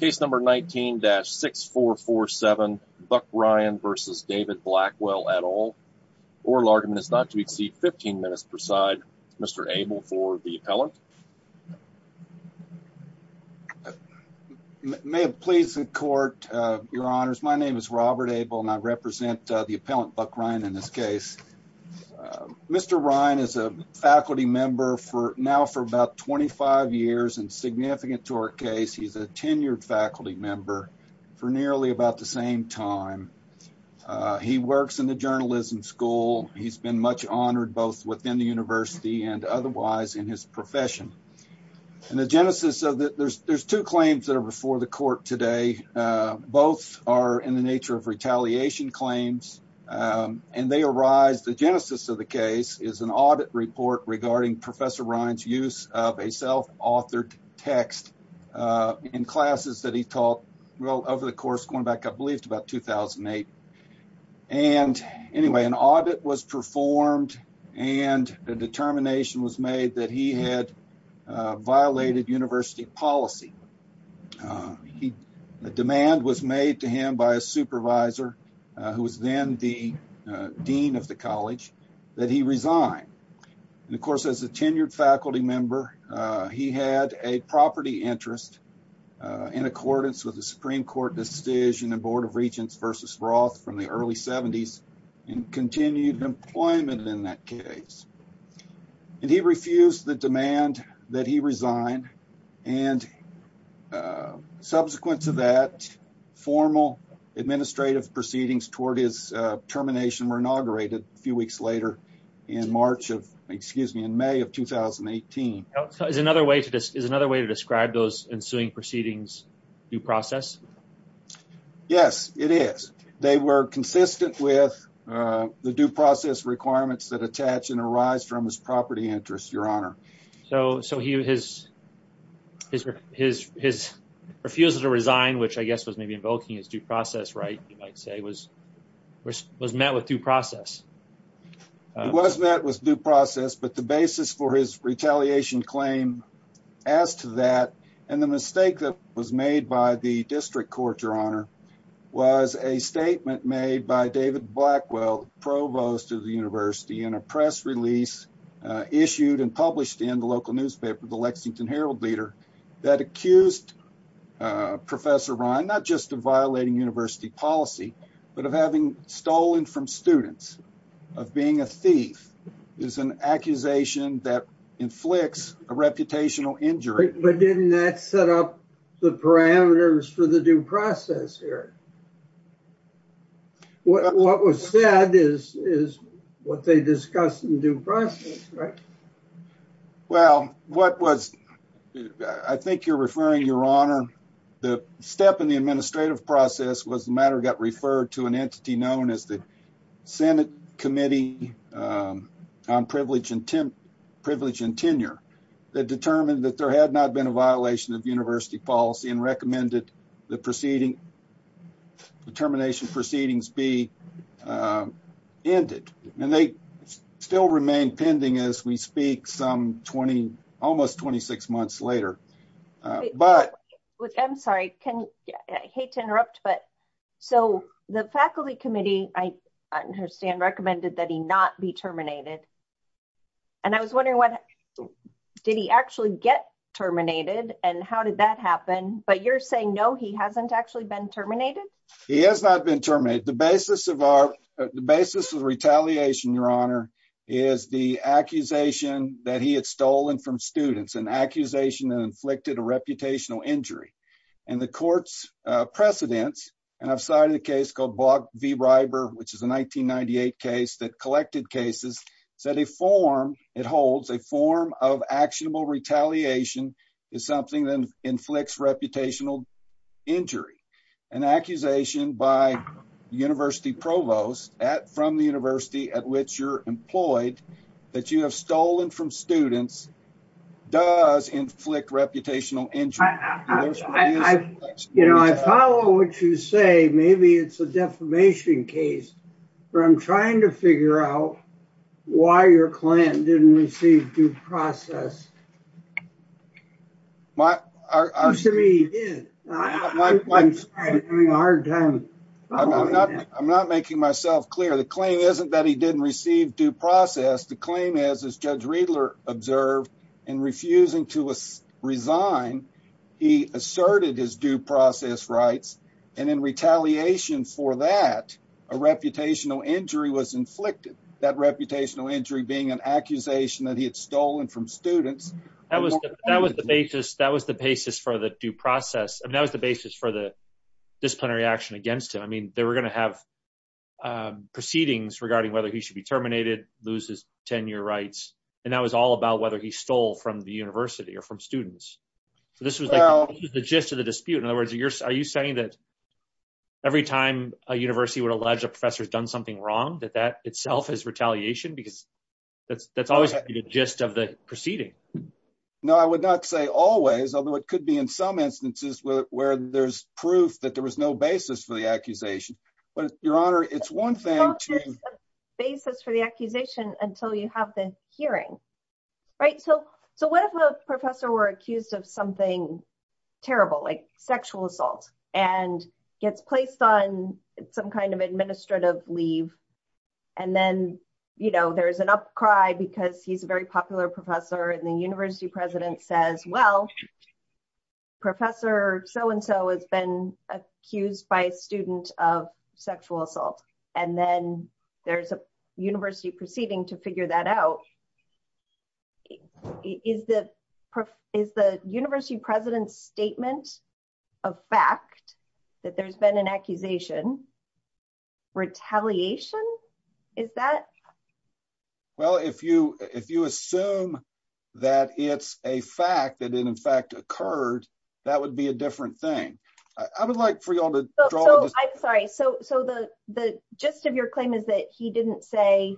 Case number 19-6447, Buck Ryan versus David Blackwell et al. Oral argument is not to exceed 15 minutes per side. Mr. Abel for the appellant. May it please the court, your honors, my name is Robert Abel and I represent the appellant Buck Ryan in this case. Mr. Ryan is a faculty member now for about 25 years and significant to our case. He's a faculty member for nearly about the same time. He works in the journalism school. He's been much honored both within the university and otherwise in his profession. And the genesis of that, there's two claims that are before the court today. Both are in the nature of retaliation claims and they arise, the genesis of the case is an audit report regarding Professor Ryan's use of a self-authored text in classes that he taught well over the course going back I believe to about 2008. And anyway, an audit was performed and a determination was made that he had violated university policy. The demand was made to him by a supervisor who was then the dean of the college that he resigned. And of course as a he had a property interest in accordance with the supreme court decision and board of regents versus broth from the early 70s and continued employment in that case. And he refused the demand that he resigned and subsequent to that formal administrative proceedings toward his termination were inaugurated a few weeks later in March of, excuse me, in May of 2018. Is another way to describe those ensuing proceedings due process? Yes, it is. They were consistent with the due process requirements that attach and arise from his property interest, your honor. So his refusal to resign, which I guess was maybe invoking his due process right, you might say, was met with due process? It was met with due process, but the basis for his retaliation claim as to that and the mistake that was made by the district court, your honor, was a statement made by David Blackwell, provost of the university, in a press release issued and published in the local newspaper, the Lexington Herald-Leader that accused Professor Ryan not just of violating university policy but of having stolen from students, of being a thief, is an accusation that inflicts a reputational injury. But didn't that set up the parameters for the due process here? What was said is what they discussed in due process, right? Well, what was, I think you're referring, your honor, the step in the administrative process was the matter got referred to an entity known as the Senate Committee on Privilege and Tenure that determined that there had not been a violation of university policy and recommended the termination proceedings be ended. And they still remain pending as we speak some 20, almost 26 months later. I'm sorry, I hate to interrupt, but so the faculty committee, I understand, recommended that he not be terminated and I was wondering what, did he actually get terminated and how did that happen? But you're saying no, he hasn't actually been terminated? He has not been terminated. The basis of our, the basis of retaliation, your honor, is the accusation that he had stolen from students, an accusation that inflicted a reputational injury. And the court's precedents, and I've cited a case called Bogg v. Ryber, which is a 1998 case that collected cases, said a form it holds, a form of actionable retaliation is something that inflicts reputational injury. An accusation by university provost at, from the university at which you're that you have stolen from students does inflict reputational injury. You know, I follow what you say, maybe it's a defamation case, but I'm trying to figure out why your client didn't receive due process. I'm not making myself clear. The claim isn't that he didn't receive due process, the claim is, as Judge Riedler observed, in refusing to resign, he asserted his due process rights, and in retaliation for that, a reputational injury was inflicted. That reputational injury being an accusation that he had stolen from students. That was, that was the basis, that was the basis for the due process, and that was the basis for the disciplinary action against him. I mean, they were going to have proceedings regarding whether he should be terminated, lose his tenure rights, and that was all about whether he stole from the university or from students. So this was like the gist of the dispute. In other words, you're, are you saying that every time a university would allege a professor has done something wrong, that that itself is retaliation? Because that's, that's always the gist of the proceeding. No, I would not say always, although it could be in some instances where there's proof that there was no for the accusation, but your honor, it's one thing to basis for the accusation until you have the hearing, right? So, so what if a professor were accused of something terrible, like sexual assault, and gets placed on some kind of administrative leave, and then, you know, there's an upcry because he's a very popular professor, and the university president says, well, professor so-and-so has been accused by a student of sexual assault, and then there's a university proceeding to figure that out. Is the, is the university president's statement a fact that there's been an accusation? Retaliation? Is that? Well, if you, if you assume that it's a fact that it in fact occurred, that would be a different thing. I would like for y'all to draw. I'm sorry, so, so the, the gist of your claim is that he didn't say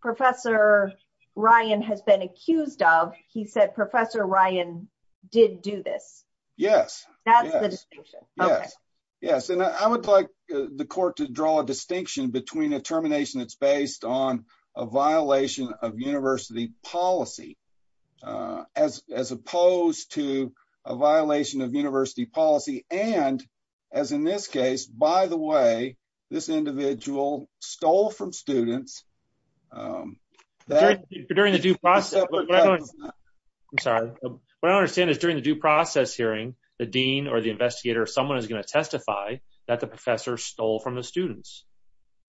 professor Ryan has been accused of, he said professor Ryan did do this. Yes, that's the distinction. Yes, yes, and I would like the court to draw a distinction between a termination that's based on a violation of university policy, as, as opposed to a violation of university policy, and, as in this case, by the way, this individual stole from students. During the due process, I'm sorry, what I understand is during the due process hearing, the dean or the investigator, someone is going to testify that the professor stole from the students,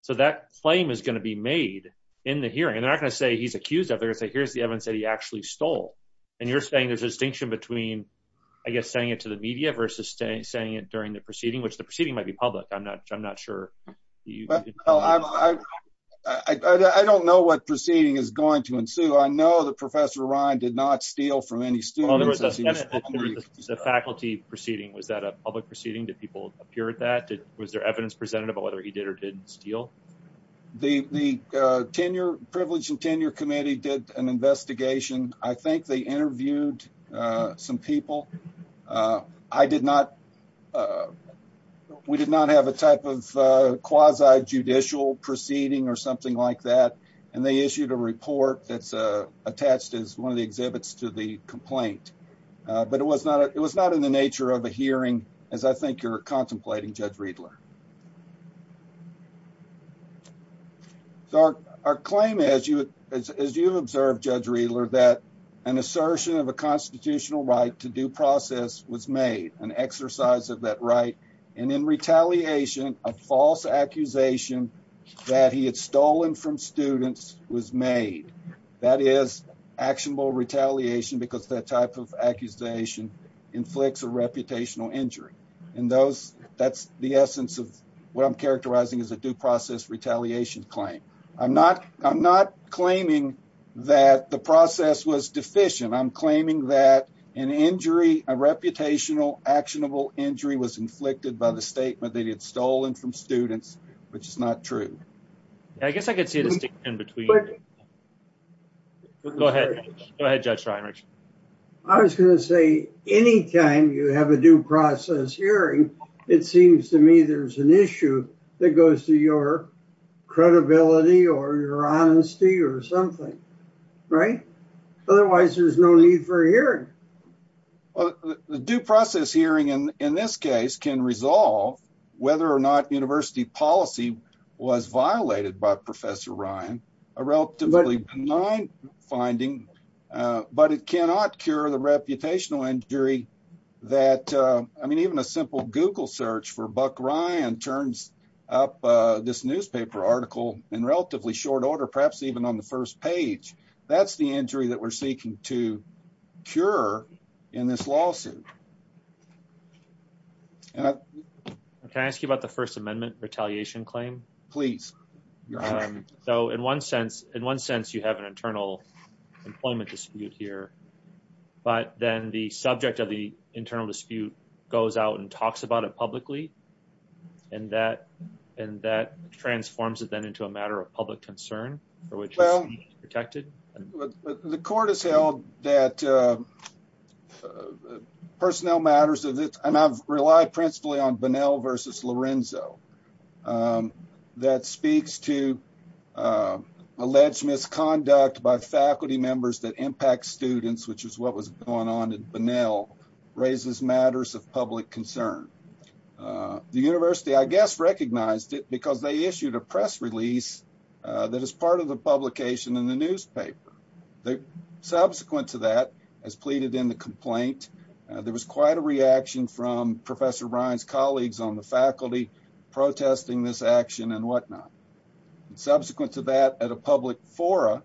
so that claim is going to be made in the hearing. They're not going to say he's accused of it, they're going to say here's the evidence that he actually stole, and you're saying there's a distinction between, I guess, saying it to the media versus saying it during the proceeding, which the proceeding might be public. I'm not, I'm not sure. Well, I, I don't know what proceeding is going to ensue. I know that professor Ryan did not steal from any students. The faculty proceeding, was that a public proceeding? Did people appear at that? Was there evidence presented about whether he did or didn't steal? The, the tenure, privilege and tenure committee did an investigation. I think they interviewed some people. I did not, we did not have a type of quasi-judicial proceeding or something like that, and they issued a report that's attached as one of the exhibits to the complaint, but it was not, it was not in the nature of a hearing, as I think you're aware, Judge Riedler. So, our claim, as you, as you observe, Judge Riedler, that an assertion of a constitutional right to due process was made, an exercise of that right, and in retaliation, a false accusation that he had stolen from students was made. That is actionable retaliation, because that type of accusation inflicts a reputational injury, and those, that's the essence of what I'm characterizing as a due process retaliation claim. I'm not, I'm not claiming that the process was deficient. I'm claiming that an injury, a reputational actionable injury was inflicted by the statement that he had stolen from students, which is not true. I guess I could see it as sticking in between. Go ahead, go ahead, Judge Reinrich. I was going to say, anytime you have a due process hearing, it seems to me there's an issue that goes to your credibility, or your honesty, or something. Right? Otherwise, there's no need for a hearing. Well, the due process hearing, in this case, can resolve whether or not university policy was violated by Professor Ryan, a relatively benign finding, but it cannot cure the reputational injury that, I mean, even a simple Google search for Buck Ryan turns up this newspaper article in relatively short order, perhaps even on the first page. That's the injury that we're seeking to cure in this lawsuit. Can I ask you about the First Amendment retaliation claim? Please. So, in one sense, you have an internal employment dispute here, but then the subject of the internal dispute goes out and talks about it publicly, and that transforms it, then, into a matter of public concern for which it's protected? Well, the court has held that personnel matters of this, and I've relied principally on Bunnell versus Lorenzo, that speaks to alleged misconduct by faculty members that impact students, which is what was going on in Bunnell, raises matters of public concern. The university, I guess, recognized it because they issued a press release that is part of the publication in the newspaper. Subsequent to that, as pleaded in the complaint, there was quite a reaction from Professor Ryan's colleagues on the faculty protesting this action and whatnot. Subsequent to that, at a public forum,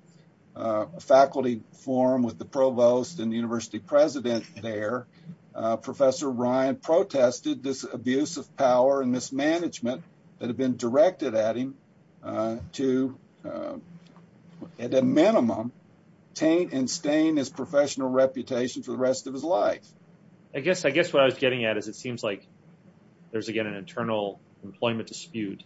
a faculty forum with the provost and the university president there, Professor Ryan protested this abuse of power and mismanagement that had been directed at him to, at a minimum, taint and stain his life. I guess what I was getting at is it seems like there's, again, an internal employment dispute,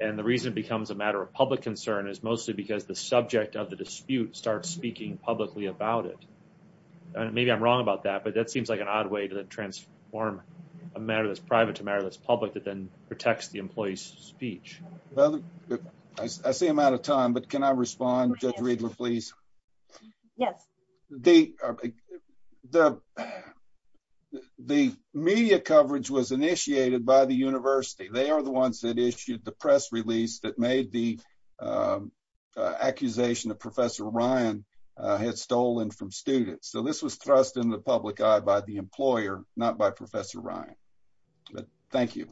and the reason it becomes a matter of public concern is mostly because the subject of the dispute starts speaking publicly about it. Maybe I'm wrong about that, but that seems like an odd way to transform a matter that's private to a matter that's public that then protects the employee's speech. Well, I see I'm out of time, but can I The media coverage was initiated by the university. They are the ones that issued the press release that made the accusation that Professor Ryan had stolen from students, so this was thrust in the public eye by the employer, not by Professor Ryan, but thank you.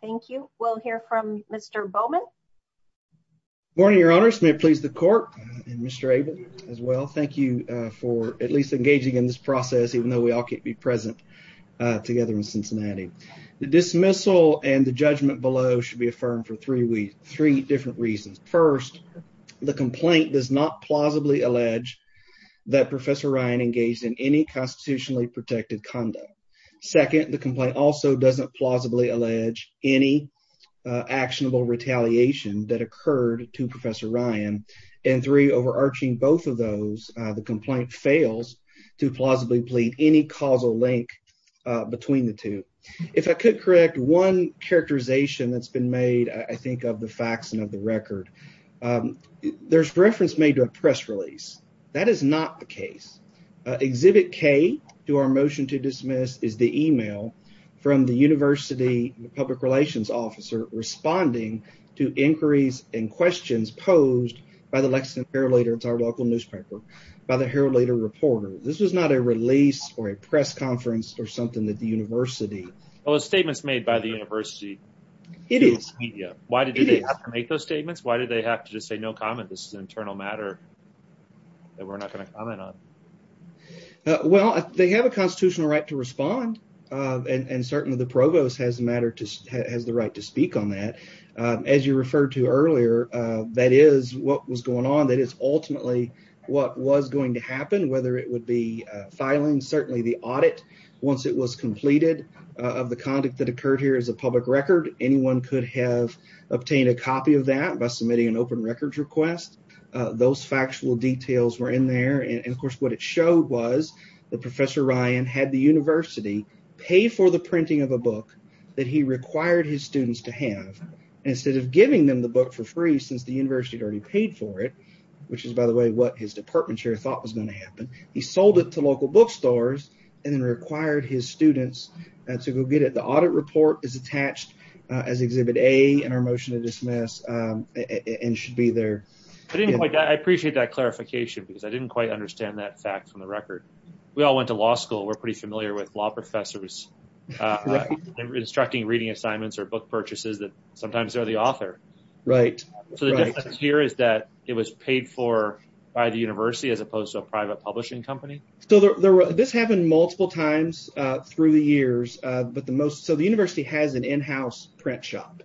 Thank you. We'll hear from Mr. Bowman. Good morning, Your Honors. May it please the at least engaging in this process, even though we all can't be present together in Cincinnati. The dismissal and the judgment below should be affirmed for three different reasons. First, the complaint does not plausibly allege that Professor Ryan engaged in any constitutionally protected conduct. Second, the complaint also doesn't plausibly allege any actionable retaliation that occurred to Professor Ryan, and three, overarching both of those, the complaint fails to plausibly plead any causal link between the two. If I could correct one characterization that's been made, I think of the facts and of the record. There's reference made to a press release. That is not the case. Exhibit K to our motion to dismiss is the email from the university public relations officer responding to inquiries and questions posed by the Herald-Later reporter. This was not a release or a press conference or something that the university. Oh, it's statements made by the university. It is. Why did they have to make those statements? Why did they have to just say no comment? This is an internal matter that we're not going to comment on. Well, they have a constitutional right to respond, and certainly the provost has the right to speak on that. As you referred to earlier, that is what was going on. That is ultimately what was going to happen, whether it would be filing, certainly the audit once it was completed of the conduct that occurred here as a public record. Anyone could have obtained a copy of that by submitting an open records request. Those factual details were in there. Of course, what it showed was that Professor Ryan had the university pay for the printing of a book that he required his students to have instead of giving them the book for free since the university had already paid for it, which is, by the way, what his department chair thought was going to happen. He sold it to local bookstores and then required his students to go get it. The audit report is attached as Exhibit A in our motion to dismiss and should be there. I appreciate that clarification because I didn't quite understand that fact from the record. We all went to law school. We're pretty familiar with law professors instructing reading assignments or book purchases that sometimes are the author. The difference here is that it was paid for by the university as opposed to a private publishing company? This happened multiple times through the years. The university has an in-house print shop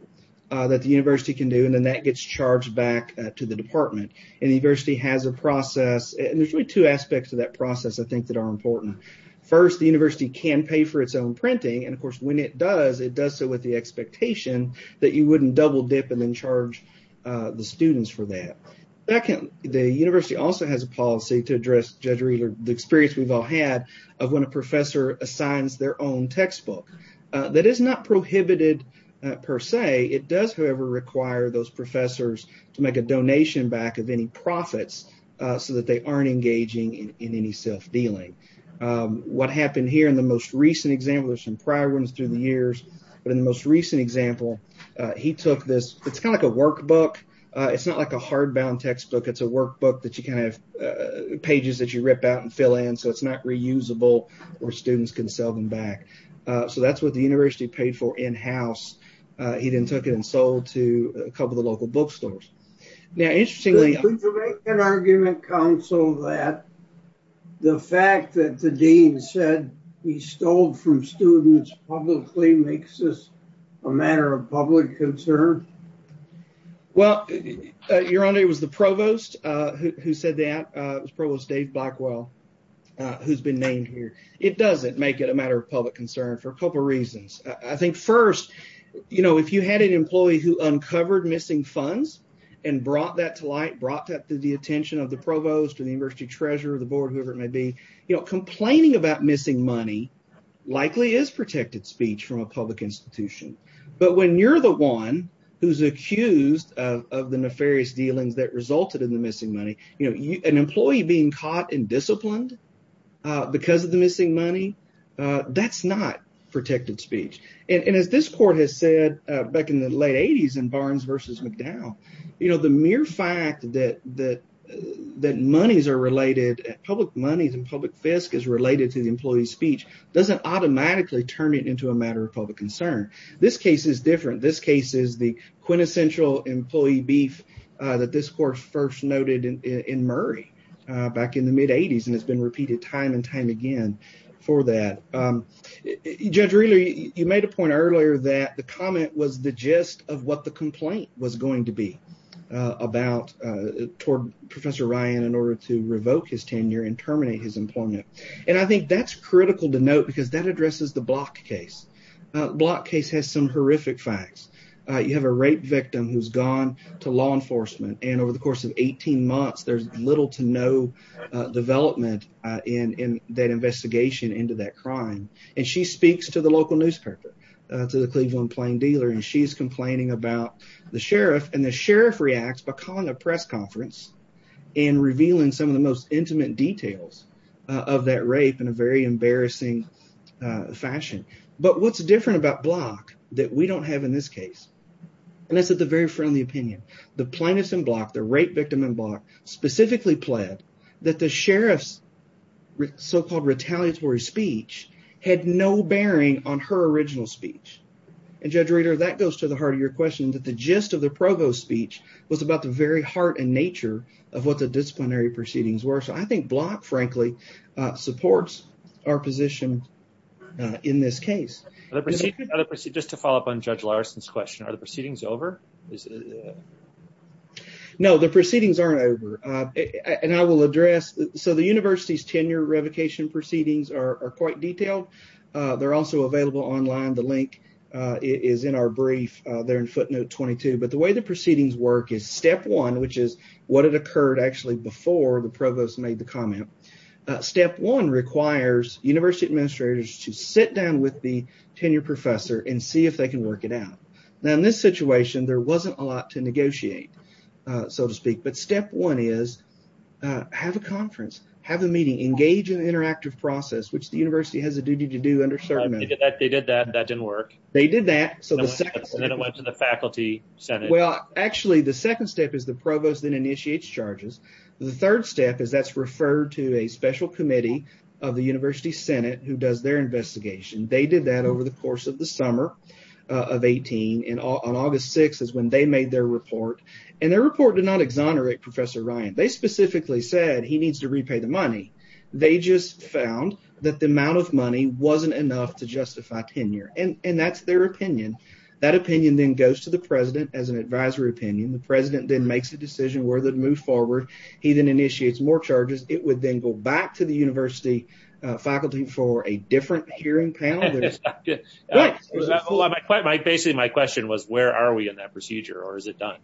that the university can do, and then that gets charged back to the department. The university has a process. There's really two aspects of that process I think that are important. First, the university can pay for its own printing. Of course, when it does, it does so with the expectation that you wouldn't double dip and then charge the students for that. The university also has a policy to address the experience we've all had of when a professor assigns their own textbook. That is not prohibited per se. It does, however, require those professors to make a donation back of any profits so that they aren't engaging in any self-dealing. What happened here in the most recent example, there's some prior ones through the years, but in the most recent example, it's kind of like a workbook. It's not like a hardbound textbook. It's a workbook that you can have pages that you rip out and fill in so it's not reusable or students can sell them back. That's what the university paid for in-house. He then took it and sold to a couple of the local bookstores. Could you make an argument, counsel, that the fact that the dean said he stole from students publicly makes this a matter of public concern? Well, your honor, it was the provost who said that. It was Provost Dave Blackwell who's been named here. It doesn't make it a matter of public concern for a couple reasons. I think first, you know, if you had an employee who uncovered missing funds and brought that to light, brought that to the attention of the provost or the university treasurer, the board, whoever it may be, you know, complaining about missing money likely is protected speech from a public institution. But when you're the one who's accused of the nefarious dealings that resulted in the missing money, you know, an employee being caught and disciplined because of the missing money, that's not protected speech. And as this court has said back in the late 80s in Barnes v. McDowell, you know, the mere fact that monies are related, public monies and public fisc is related to the employee's speech doesn't automatically turn it into a matter of public concern. This case is different. This case is the quintessential employee beef that this court first noted in Murray back in the mid-80s, and it's been repeated time and time again for that. Judge Rehler, you made a point earlier that the comment was the gist of what the complaint was going to be about toward Professor Ryan in order to revoke his tenure and terminate his employment. And I think that's critical to note because that addresses the Block case. Block case has some horrific facts. You have a rape victim who's gone to law enforcement, and over the course of 18 months, there's little to no development in that investigation into that crime. And she speaks to the local newspaper, to the Cleveland Plain Dealer, and she's complaining about the sheriff, and the sheriff reacts by calling a press conference and revealing some of the most intimate details of that rape in a very embarrassing fashion. But what's different about Block that we don't have in this case? And this is a very friendly opinion. The plaintiffs in Block, the rape victim in Block, specifically pled that the sheriff's so-called retaliatory speech had no relationship with the prosecutor. And Judge Rehler, that goes to the heart of your question, that the gist of the provost's speech was about the very heart and nature of what the disciplinary proceedings were. So I think Block, frankly, supports our position in this case. Just to follow up on Judge Larson's question, are the proceedings over? No, the proceedings aren't over. And I will address, so the university's tenure revocation proceedings are quite detailed. They're also available online. The link is in our brief. They're in footnote 22. But the way the proceedings work is step one, which is what had occurred actually before the provost made the comment. Step one requires university administrators to sit down with the tenure professor and see if they can work it out. Now, in this situation, there wasn't a lot to negotiate, so to speak. But step one is have a conference, have a meeting, engage in an interactive process, which the university has a duty to do under certain measures. They did that. That didn't work. They did that. So then it went to the faculty senate. Well, actually, the second step is the provost then initiates charges. The third step is that's referred to a special committee of the university senate who does their investigation. They did that over the course of the summer of 18. And on August 6 is when they made their report. And their report did not exonerate Professor Ryan. They specifically said he needs to wasn't enough to justify tenure. And that's their opinion. That opinion then goes to the president as an advisory opinion. The president then makes a decision whether to move forward. He then initiates more charges. It would then go back to the university faculty for a different hearing panel. Basically, my question was, where are we in that procedure, or is it done?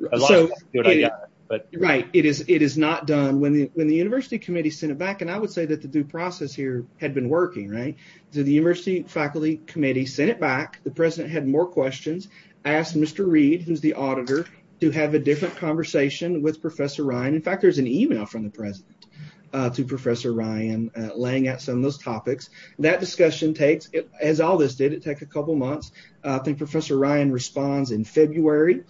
Right. It is not done. When the university committee sent it back, and I would say that the due process here had been working, right? The university faculty committee sent it back. The president had more questions, asked Mr. Reed, who's the auditor, to have a different conversation with Professor Ryan. In fact, there's an email from the president to Professor Ryan laying out some of those topics. That discussion takes, as all this did, it takes a couple months. I think Professor Ryan responds in February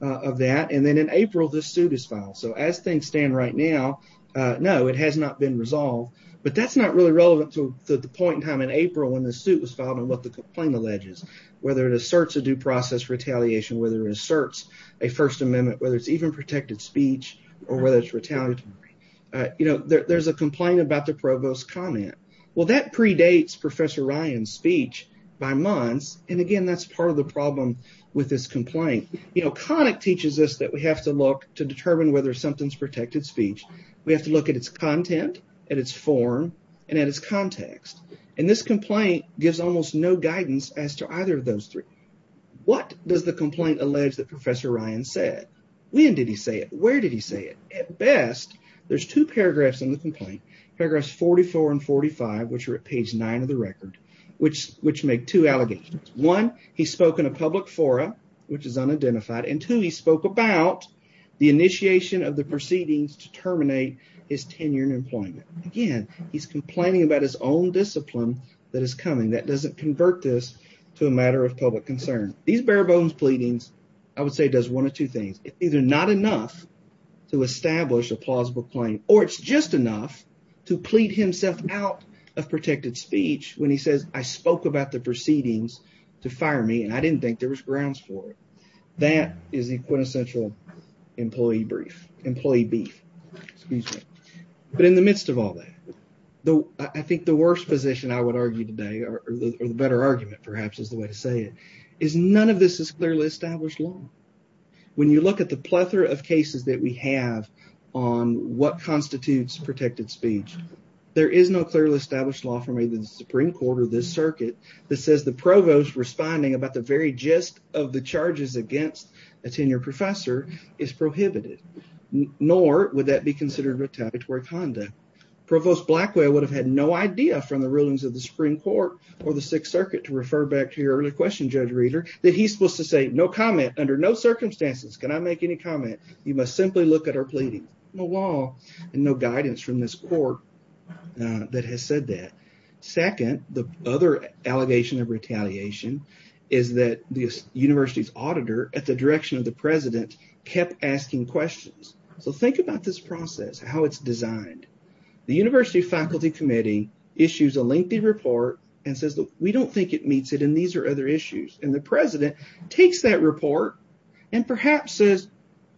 of that. And then in April, this suit is filed. So as things stand right now, no, it has not been resolved. But that's not really relevant to the point in time in April when the suit was filed and what the complaint alleges, whether it asserts a due process retaliation, whether it asserts a First Amendment, whether it's even protected speech, or whether it's retaliatory. You know, there's a complaint about the provost's comment. Well, that predates Professor Ryan's speech by months. And again, that's part of the problem with this complaint. You know, Connick teaches us that we have to look to determine whether something's protected speech. We have to look at its content, at its form, and at its context. And this complaint gives almost no guidance as to either of those three. What does the complaint allege that Professor Ryan said? When did he say it? Where did he say it? At best, there's two paragraphs in the complaint, paragraphs 44 and 45, which are at page nine of the record, which make two allegations. One, he spoke in a public forum, which is of the proceedings to terminate his tenure in employment. Again, he's complaining about his own discipline that is coming. That doesn't convert this to a matter of public concern. These bare-bones pleadings, I would say, does one of two things. It's either not enough to establish a plausible claim, or it's just enough to plead himself out of protected speech when he says, I spoke about the proceedings to fire me, and I didn't think there was grounds for it. That is a quintessential employee beef. But in the midst of all that, I think the worst position I would argue today, or the better argument, perhaps, is the way to say it, is none of this is clearly established law. When you look at the plethora of cases that we have on what constitutes protected speech, there is no clearly established law from either the Supreme Court or this circuit that says the provost responding about the very gist of the charges against a tenured professor is prohibited, nor would that be considered retaliatory conduct. Provost Blackway would have had no idea from the rulings of the Supreme Court or the Sixth Circuit, to refer back to your earlier question, Judge Reeder, that he's supposed to say, no comment, under no circumstances, cannot make any comment. You must simply look at our pleading. No law and no guidance from this court that has said that. Second, the other allegation of retaliation is that the university's auditor, at the direction of the president, kept asking questions. So think about this process, how it's designed. The university faculty committee issues a lengthy report and says, look, we don't think it meets it and these are other issues. And the president takes that report and perhaps says,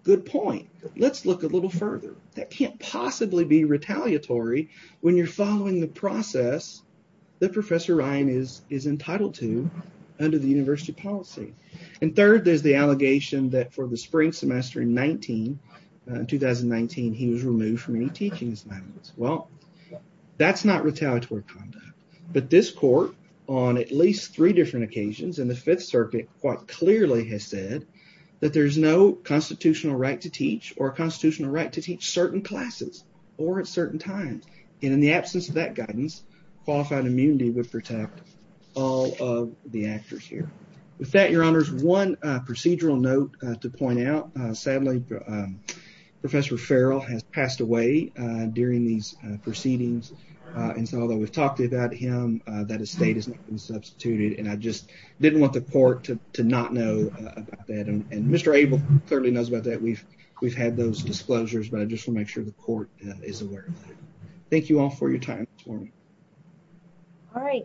good point, let's look a little further. That can't possibly be retaliatory when you're following the process that Professor Ryan is entitled to under the university policy. And third, there's the allegation that for the spring semester in 2019, he was removed from any teaching assignments. Well, that's not retaliatory conduct, but this court, on at least three different occasions in the Fifth Circuit, quite clearly has said that there's no constitutional right to teach or constitutional right to teach certain classes or at certain times. And in the qualified immunity would protect all of the actors here. With that, your honors, one procedural note to point out. Sadly, Professor Farrell has passed away during these proceedings. And so although we've talked about him, that estate has not been substituted. And I just didn't want the court to not know about that. And Mr. Abel clearly knows about that. We've had those disclosures, but I just want to make sure the court is aware of that. Thank you all for your time this morning. All right.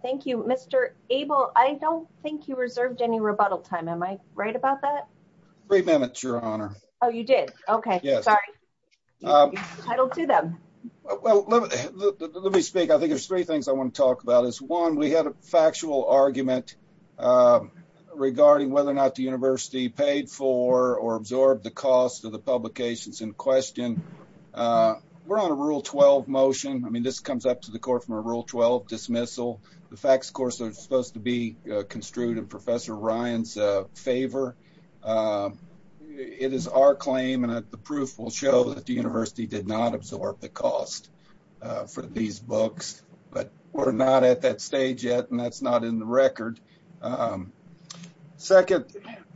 Thank you, Mr. Abel. I don't think you reserved any rebuttal time. Am I right about that? Three minutes, Your Honor. Oh, you did? Okay. Yes. Sorry. I don't do them. Well, let me speak. I think there's three things I want to talk about is one. We had a factual argument, uh, regarding whether or not the university paid for or absorbed the cost of the publications in question. We're on a rule 12 motion. I mean, this comes up to the court from a rule 12 dismissal. The facts, of course, are supposed to be construed in Professor Ryan's favor. It is our claim, and the proof will show that the university did not absorb the cost for these books. But we're not at that stage yet, and that's not in the record. Um, second,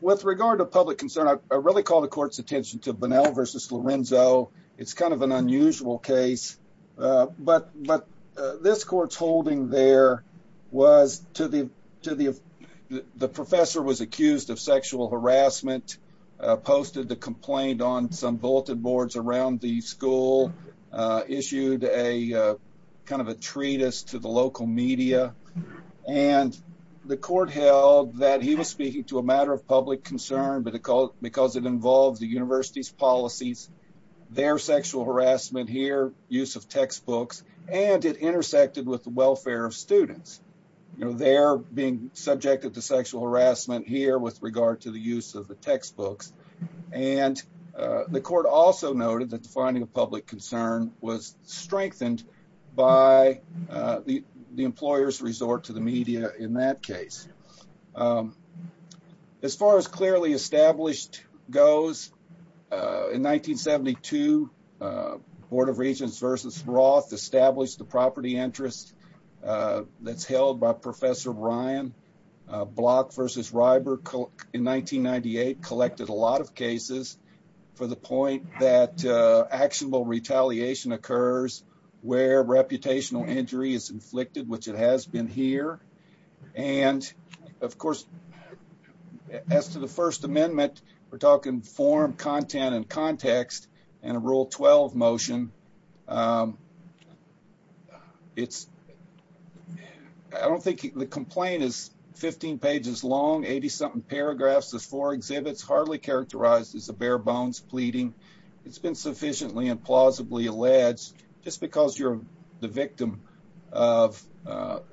with regard to public concern, I really call the court's attention to Bunnell versus Lorenzo. It's kind of an unusual case. But but this court's holding there was to the to the the professor was accused of sexual harassment, posted the complaint on some bulleted boards around the school issued a kind of a treatise to the local media, and the court held that he was speaking to a matter of public concern, but because it involved the university's policies, their sexual harassment here, use of textbooks, and it intersected with the welfare of students. You know, they're being subjected to sexual harassment here with regard to the use of the textbooks, and the court also noted that the employers resort to the media in that case. As far as clearly established goes, in 1972, Board of Regents versus Roth established the property interest that's held by Professor Ryan. Block versus Reiber in 1998 collected a lot of cases for the point that actionable retaliation occurs where reputational injury is inflicted, which it has been here. And, of course, as to the First Amendment, we're talking form, content, and context, and a Rule 12 motion. It's I don't think the complaint is 15 pages long, 80 something paragraphs, there's four exhibits hardly characterized as a bare bones pleading. It's been sufficiently and plausibly alleged just because you're the victim of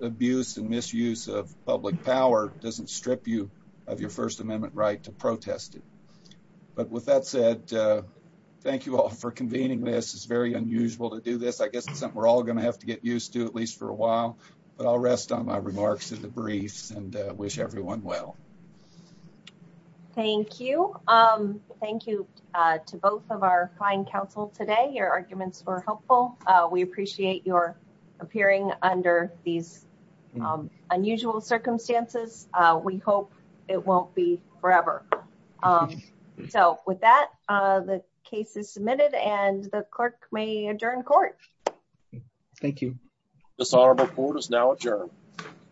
abuse and misuse of public power doesn't strip you of your First Amendment right to protest it. But with that said, thank you all for convening this. It's very unusual to do this. I guess it's something we're all going to have to get used to at least for a while, but I'll rest on my remarks in the briefs and wish everyone well. Thank you. Thank you to both of our fine counsel today. Your arguments were helpful. We appreciate your appearing under these unusual circumstances. We hope it won't be forever. So with that, the case is submitted and the clerk may adjourn court. Thank you. This honorable court is now adjourned.